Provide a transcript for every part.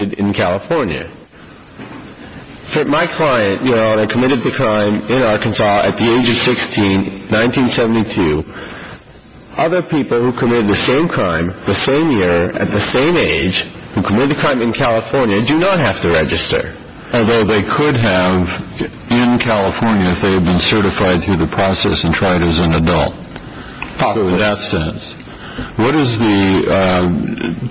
in California. My client committed the crime in Arkansas at the age of 16, 1972. Other people who committed the same crime the same year at the same age who committed the crime in California do not have to register. Although they could have in California if they had been certified through the process and tried as an adult. Probably. In that sense. What is the,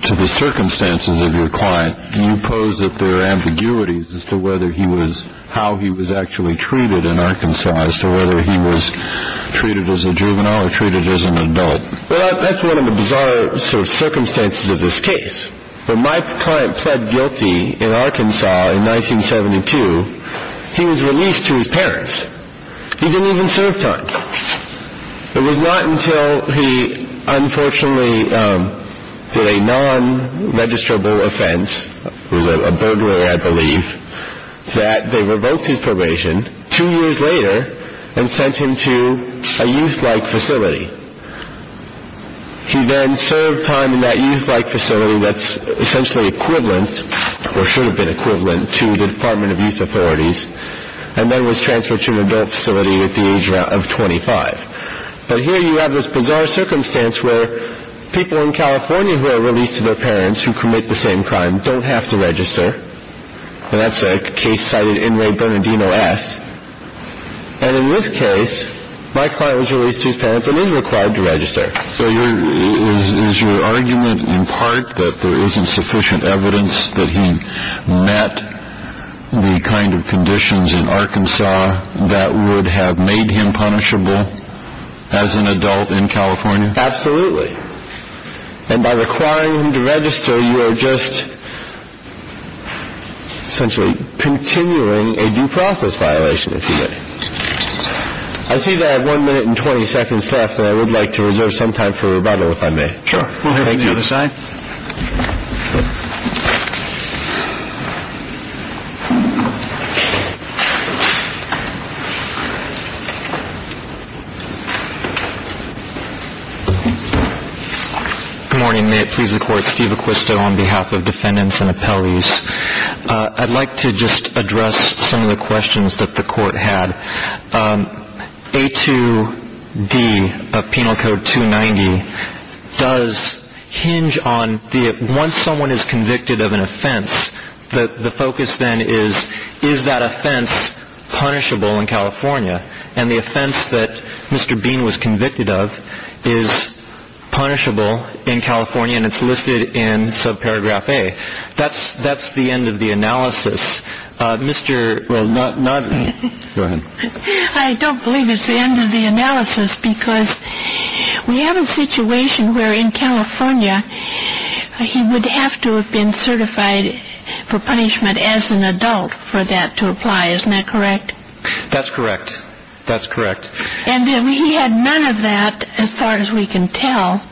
to the circumstances of your client, do you pose that there are ambiguities as to whether he was, how he was actually treated in Arkansas as to whether he was treated as a juvenile or treated as an adult? Well, that's one of the bizarre sort of circumstances of this case. When my client pled guilty in Arkansas in 1972, he was released to his parents. He was not until he unfortunately did a non-registrable offense, was a burglar, I believe, that they revoked his probation two years later and sent him to a youth-like facility. He then served time in that youth-like facility that's essentially equivalent or should have been equivalent to the Department of Youth Authorities and then was transferred to an adult facility at the age of 25. But here you have this bizarre circumstance where people in California who are released to their parents who commit the same crime don't have to register. And that's a case cited in Ray Bernardino S. And in this case, my client was released to his parents and is required to register. So your, is your argument in part that there isn't sufficient evidence that he met the kind of conditions in Arkansas that would have made him punishable as an adult in California? Absolutely. And by requiring him to register, you are just essentially continuing a due process violation, if you may. I see that I have one minute and 20 seconds left and I would like to reserve some time for rebuttal, if I may. Sure. Go ahead. Good morning. May it please the Court. Steve Acquisto on behalf of defendants and appellees. I'd like to just address some of the questions that the Court had. A2D of Penal is convicted of an offense. The focus then is, is that offense punishable in California? And the offense that Mr. Bean was convicted of is punishable in California. And it's listed in subparagraph A. That's that's the end of the analysis. Mr. Well, not not. I don't believe it's the end of the analysis because we have a situation where in California he would have to have been certified for punishment as an adult for that to apply. Isn't that correct? That's correct. That's correct. And we had none of that as far as we can tell.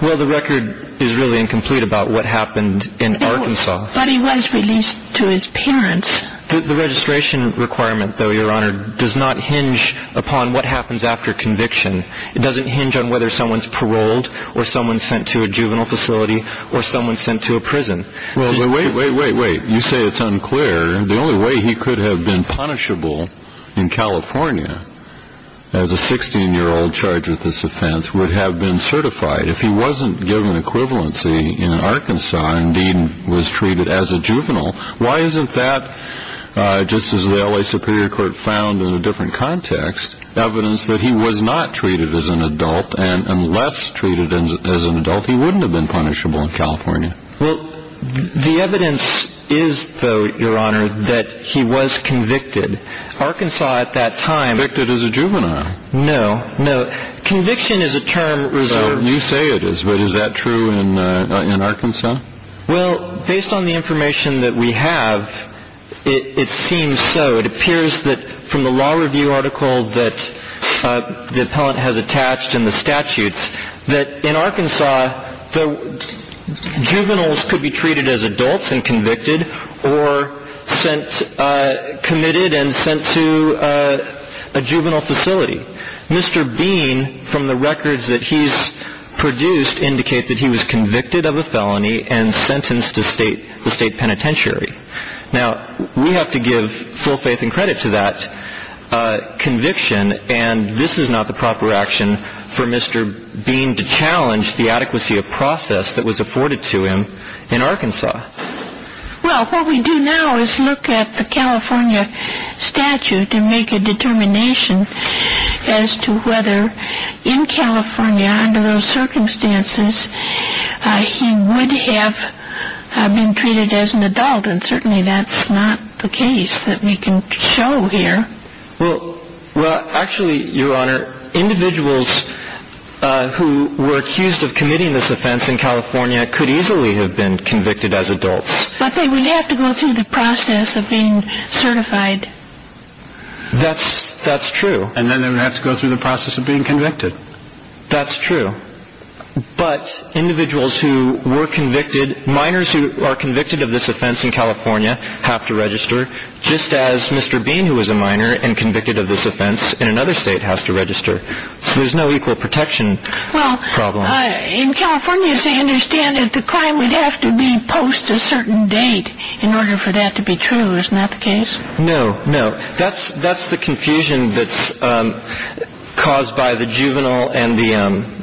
Well, the record is really incomplete about what happened in Arkansas. But he was released to his parents. The registration requirement, though, Your Honor, does not hinge upon what happens after conviction. It doesn't hinge on whether someone's paroled or someone sent to a juvenile facility or someone sent to a prison. Well, wait, wait, wait, wait. You say it's unclear. The only way he could have been punishable in California as a 16 year old charged with this offense would have been certified if he wasn't given equivalency in Arkansas and was treated as a juvenile. Why isn't that just as the L.A. Superior Court found in a different context, evidence that he was not treated as an adult and less treated as an adult, he wouldn't have been punishable in California. Well, the evidence is, though, Your Honor, that he was convicted. Arkansas at that time. Convicted as a juvenile. No, no. Conviction is a term reserved. You say it is. But is that true in Arkansas? Well, based on the information that we have, it seems so. It appears that from the law review article that the appellant has attached in the statutes, that in Arkansas the juveniles could be treated as adults and convicted or sent, committed and sent to a juvenile facility. Mr. Bean, from the records that he's produced, indicate that he was convicted of a felony and sentenced to state, the state penitentiary. Now, we have to give full faith and credit to that conviction. And this is not the proper action for Mr. Bean to challenge the adequacy of process that was afforded to him in Arkansas. Well, what we do now is look at the California statute and make a determination as to whether in California, under those circumstances, he would have been treated as an adult. And certainly that's not the case that we can show here. Well, actually, Your Honor, individuals who were accused of committing this offense in California could easily have been convicted as adults. But they would have to go through the process of being certified. That's true. And then they would have to go through the That's true. But individuals who were convicted, minors who are convicted of this offense in California have to register, just as Mr. Bean, who was a minor and convicted of this offense in another state, has to register. There's no equal protection problem. Well, in California, as I understand it, the crime would have to be post a certain date in order for that to be true. Isn't that the case? No, no. That's the confusion that's caused by the juvenile and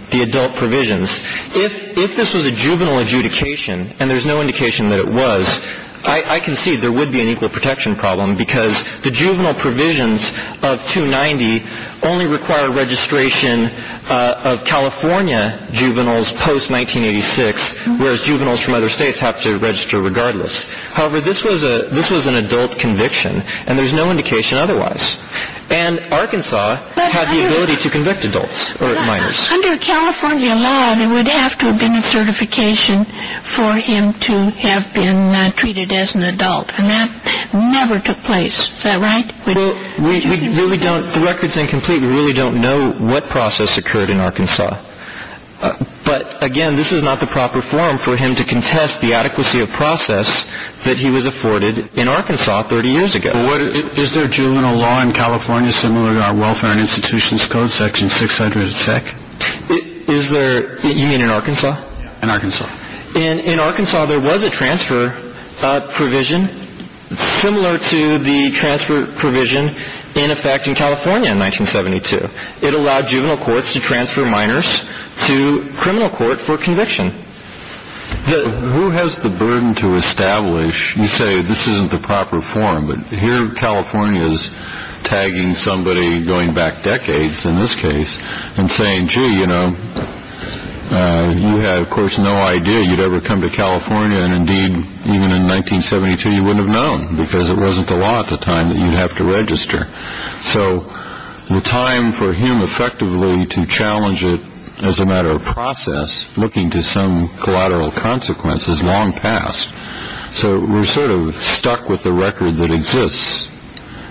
the adult provisions. If this was a juvenile adjudication, and there's no indication that it was, I concede there would be an equal protection problem because the juvenile provisions of 290 only require registration of California juveniles post 1986, whereas juveniles from other states have to register regardless. However, this was an adult conviction, and there's no indication otherwise. And Arkansas had the ability to convict adults, or minors. Under California law, there would have to have been a certification for him to have been treated as an adult, and that never took place. Is that right? Well, we really don't, the record's incomplete. We really don't know what process occurred in Arkansas. But, again, this is not the proper forum for him to contest the adequacy of process that he was afforded in Arkansas 30 years ago. Is there juvenile law in California similar to our Welfare and Institutions Code section 600-sec? Is there, you mean in Arkansas? In Arkansas. In Arkansas, there was a transfer provision similar to the transfer provision in effect in California in 1972. It allowed juvenile courts to transfer minors to criminal court for conviction. Who has the burden to establish, you say, this isn't the proper forum, but here California's tagging somebody going back decades, in this case, and saying, gee, you know, you had, of course, no idea you'd ever come to California, and, indeed, even in 1972, you wouldn't have So, the time for him, effectively, to challenge it as a matter of process, looking to some collateral consequences, long passed. So, we're sort of stuck with the record that exists.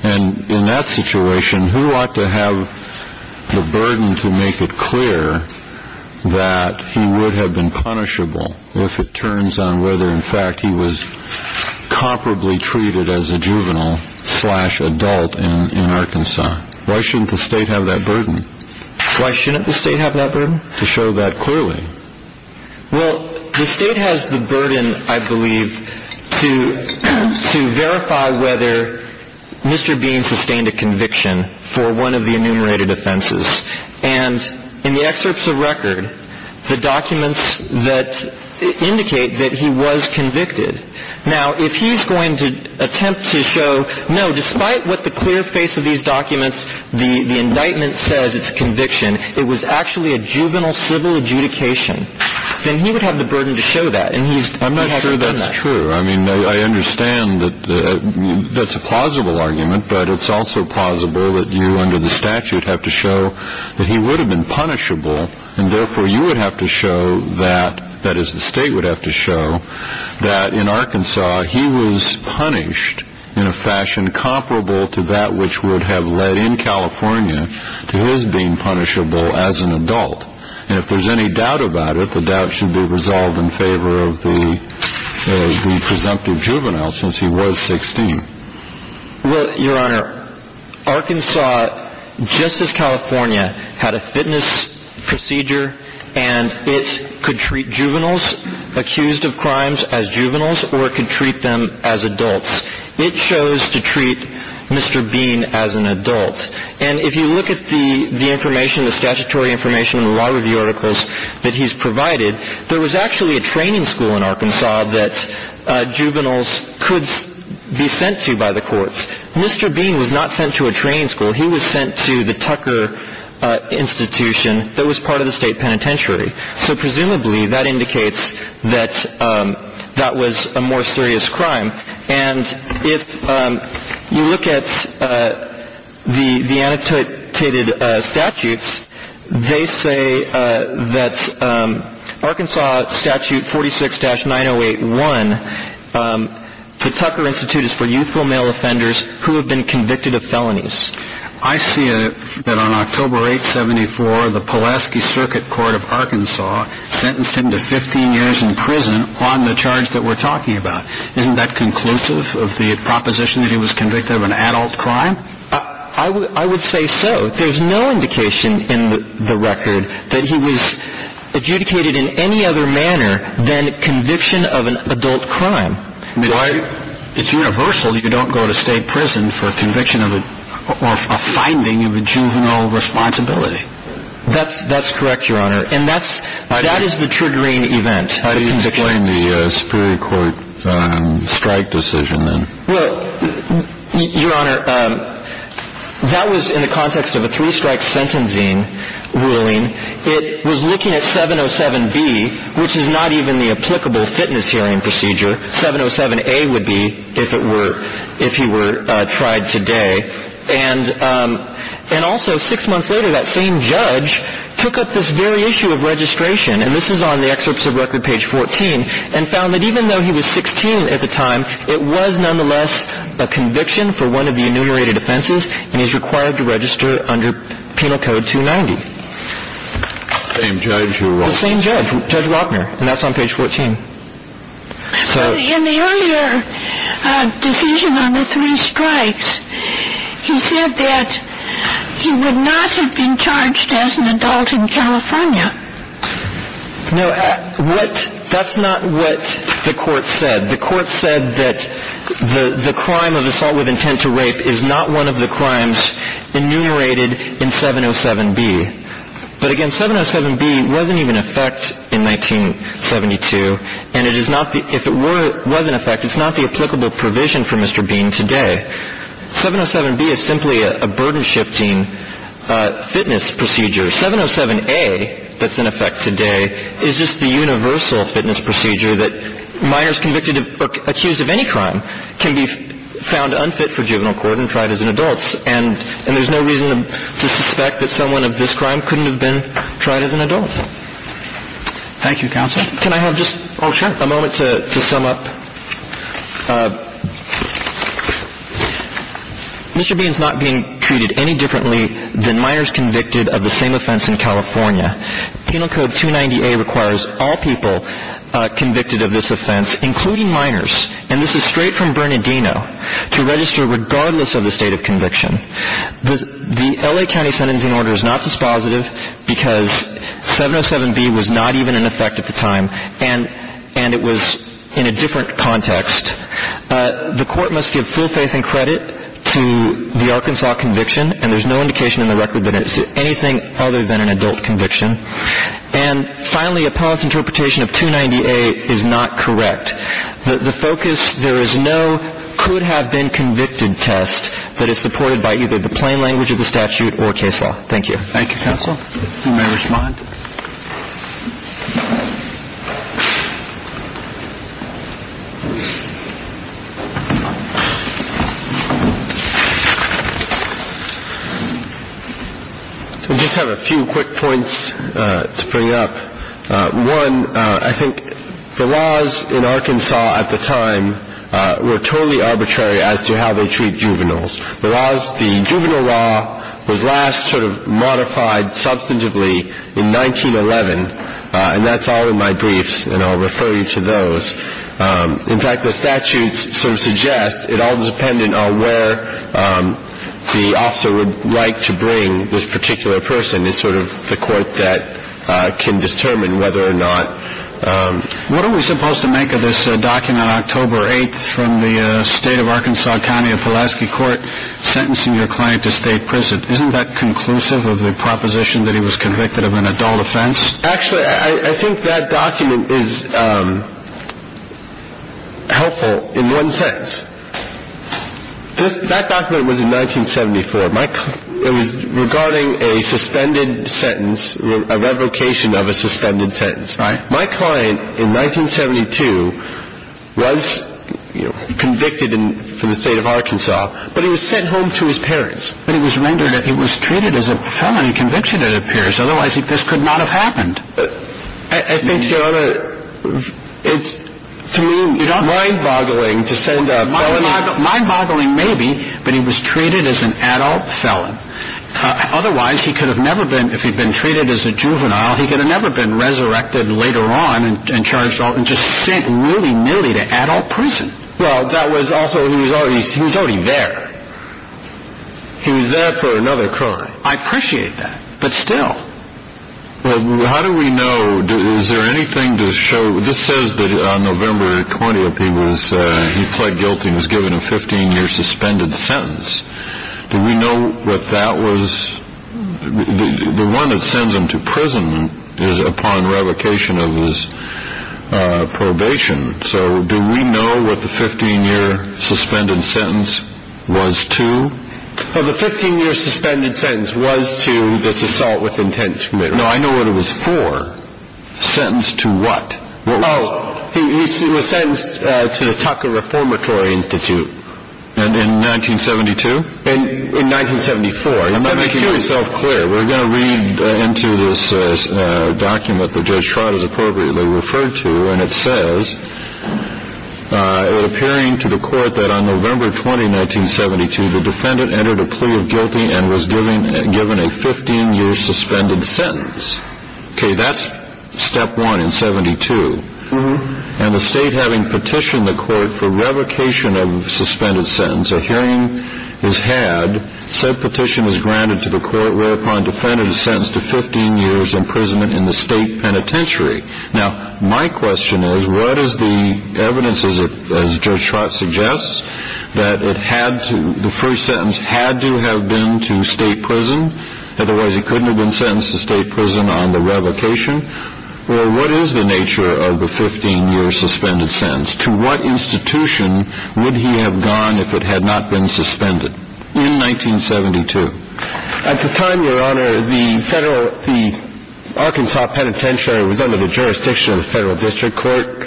And, in that situation, who ought to have the burden to make it clear that he would have been punishable if it turns on whether, in fact, he was comparably treated as a juvenile slash adult in Arkansas? Why shouldn't the state have that burden? Why shouldn't the state have that burden? To show that clearly. Well, the state has the burden, I believe, to verify whether Mr. Bean sustained a conviction for one of the enumerated offenses. And, in the excerpts of record, the documents that attempt to show, no, despite what the clear face of these documents, the indictment says, it's a conviction, it was actually a juvenile civil adjudication, then he would have the burden to show that, and he hasn't done that. I'm not sure that's true. I mean, I understand that that's a plausible argument, but it's also plausible that you, under the statute, have to show that he would have been punishable, and, therefore, you would have to show that, that is, the state would have to show that, in Arkansas, he was punished in a fashion comparable to that which would have led, in California, to his being punishable as an adult. And, if there's any doubt about it, the doubt should be resolved in favor of the presumptive juvenile, since he was 16. Well, Your Honor, Arkansas, just as California, had a fitness procedure, and it could treat juveniles accused of crimes as juveniles or it could treat them as adults. It chose to treat Mr. Bean as an adult. And, if you look at the information, the statutory information in the law review articles that he's provided, there was actually a training school in Arkansas that juveniles could be sent to by the courts. Mr. Bean was not sent to a training school. He was sent to the Tucker Institution that was part of the state penitentiary. So, presumably, that indicates that that was a more serious crime. And, if you look at the annotated statutes, they say that Arkansas Statute 46-9081, the Tucker Institute is for youthful male offenders who have been convicted of felonies. I see that on October 874, the Pulaski Circuit Court of Arkansas sentenced him to 15 years in prison on the charge that we're talking about. Isn't that conclusive of the proposition that he was convicted of an adult crime? I would say so. There's no indication in the record that he was adjudicated in any other manner than conviction of an adult crime. Why? It's universal. You don't go to state prison for conviction of a finding of a juvenile responsibility. That's correct, Your Honor. And that is the triggering event. How do you explain the Superior Court strike decision, then? Well, Your Honor, that was in the context of a three-strike sentencing ruling. It was looking at 707B, which is not even the applicable fitness hearing procedure. 707A would be, if it were, if he were tried today. And also, six months later, that same judge took up this very issue of registration, and this is on the excerpts of Record Page 14, and found that even though he was 16 at the time, it was nonetheless a conviction for one of the enumerated offenses, and he's required to register under Penal Code 290. The same judge who wrote this? The same judge, Judge Rockner, and that's on Page 14. In the earlier decision on the three strikes, he said that he would not have been charged as an adult in California. No, that's not what the court said. The court said that the crime of assault with intent to rape is not one of the crimes enumerated in 707B. But, again, 707B wasn't even in effect in 1972, and it is not the, if it was in effect, it's not the applicable provision for Mr. Bean today. 707B is simply a burden-shifting fitness procedure. 707A that's in effect today is just the universal fitness procedure that minors convicted of or accused of any crime can be found unfit for juvenile court and tried as an adult, and there's no reason to suspect that someone of this crime couldn't have been tried as an adult. Thank you, counsel. Can I have just a moment to sum up? Mr. Bean's not being treated any differently than minors convicted of the same offense in California. Penal Code 290A requires all people convicted of this offense, including minors, and this is straight from Bernardino, to register regardless of the state of conviction. The L.A. County sentencing order is not dispositive because 707B was not even in effect at the time, and it was in a different context. The court must give full faith and credit to the Arkansas conviction, and there's no indication in the record that it's anything other than an adult conviction. And finally, a paused interpretation of 290A is not correct. The focus, there is no could-have-been-convicted test that is supported by either the plain language of the statute or case law. Thank you. Thank you, counsel. You may respond. I just have a few quick points to bring up. One, I think the laws in Arkansas at the time were totally arbitrary as to how they treat juveniles. The juvenile law was last sort of modified substantively in 1911, and that's all in my briefs, and I'll refer you to those. In fact, the statute sort of suggests it all depended on where the officer would like to bring this particular person. It's sort of the court that can determine whether or not... Actually, I think that document is helpful in one sense. That document was in 1974. It was regarding a suspended sentence, a revocation of a suspended sentence. My client in 1972 was convicted in the state of Arkansas, but he was sent home to his parents. But he was rendered... he was treated as a felon in conviction, it appears. Otherwise, this could not have happened. I think, Your Honor, it's to me mind-boggling to send a felon... Mind-boggling maybe, but he was treated as an adult felon. Otherwise, he could have never been... later on, and charged... and just sent willy-nilly to adult prison. Well, that was also... he was already there. He was there for another crime. I appreciate that, but still... Well, how do we know... is there anything to show... this says that on November 20th, he was... he pled guilty and was given a 15-year suspended sentence. Do we know what that was... the one that sends him to prison is upon revocation of his probation. So, do we know what the 15-year suspended sentence was to? Well, the 15-year suspended sentence was to this assault with intent to commit... No, I know what it was for. Sentenced to what? Oh, he was sentenced to the Tucker Reformatory Institute. And in 1972? In 1974. I'm not making myself clear. We're going to read into this document that Judge Trott has appropriately referred to, and it says, it appearing to the court that on November 20, 1972, the defendant entered a plea of guilty and was given a 15-year suspended sentence. Okay, that's step one in 72. And the state having petitioned the court for revocation of suspended sentence, a hearing is had, said petition is granted to the court, whereupon defendant is sentenced to 15 years imprisonment in the state penitentiary. Now, my question is, what is the evidence, as Judge Trott suggests, that it had to... the first sentence had to have been to state prison, otherwise he couldn't have been sentenced to state prison on the revocation? Or what is the nature of the 15-year suspended sentence? To what institution would he have gone if it had not been suspended? In 1972. At the time, Your Honor, the Arkansas Penitentiary was under the jurisdiction of the Federal District Court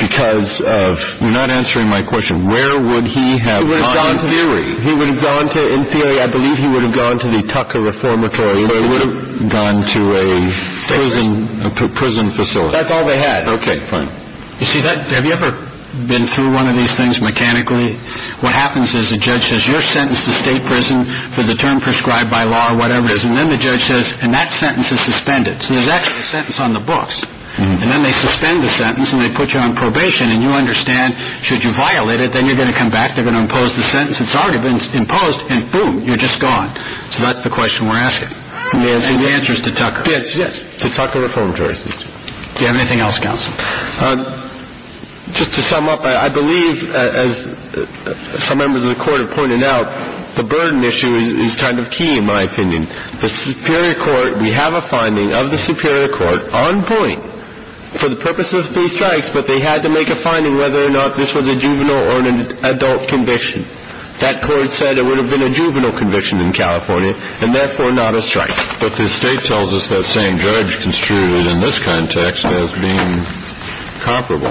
because of... You're not answering my question. Where would he have gone? He would have gone to theory. He would have gone to... In theory, I believe he would have gone to the Tucker Reformatory Institute. Or he would have gone to a prison facility. That's all they had. Okay, fine. You see, have you ever been through one of these things mechanically? What happens is the judge says, you're sentenced to state prison for the term prescribed by law or whatever it is. And then the judge says, and that sentence is suspended. So there's actually a sentence on the books. And then they suspend the sentence and they put you on probation. And you understand, should you violate it, then you're going to come back, they're going to impose the sentence, it's already been imposed, and boom, you're just gone. So that's the question we're asking. And the answer is to Tucker. Yes, yes, to Tucker Reformatory Institute. Do you have anything else, counsel? Just to sum up, I believe, as some members of the Court have pointed out, the burden issue is kind of key, in my opinion. The Superior Court, we have a finding of the Superior Court, on point, for the purpose of three strikes, but they had to make a finding whether or not this was a juvenile or an adult conviction. That Court said it would have been a juvenile conviction in California, and therefore not a strike. But the State tells us that same judge construed it in this context as being comparable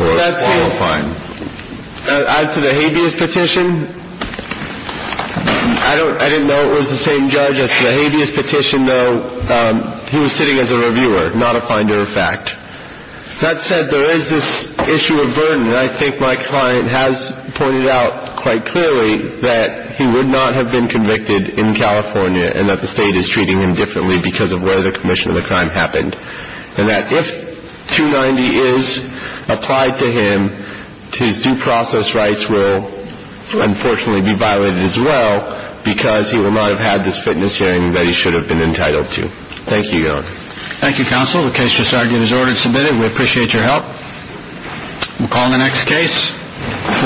or qualifying. As to the habeas petition, I didn't know it was the same judge as to the habeas petition, though he was sitting as a reviewer, not a finder of fact. That said, there is this issue of burden, and I think my client has pointed out quite clearly that he would not have been convicted in California and that the State is treating him differently because of where the commission of the crime happened, and that if 290 is applied to him, his due process rights will unfortunately be violated as well because he will not have had this fitness hearing that he should have been entitled to. Thank you, Your Honor. Thank you, counsel. The case just argued is ordered and submitted. We appreciate your help. We'll call the next case.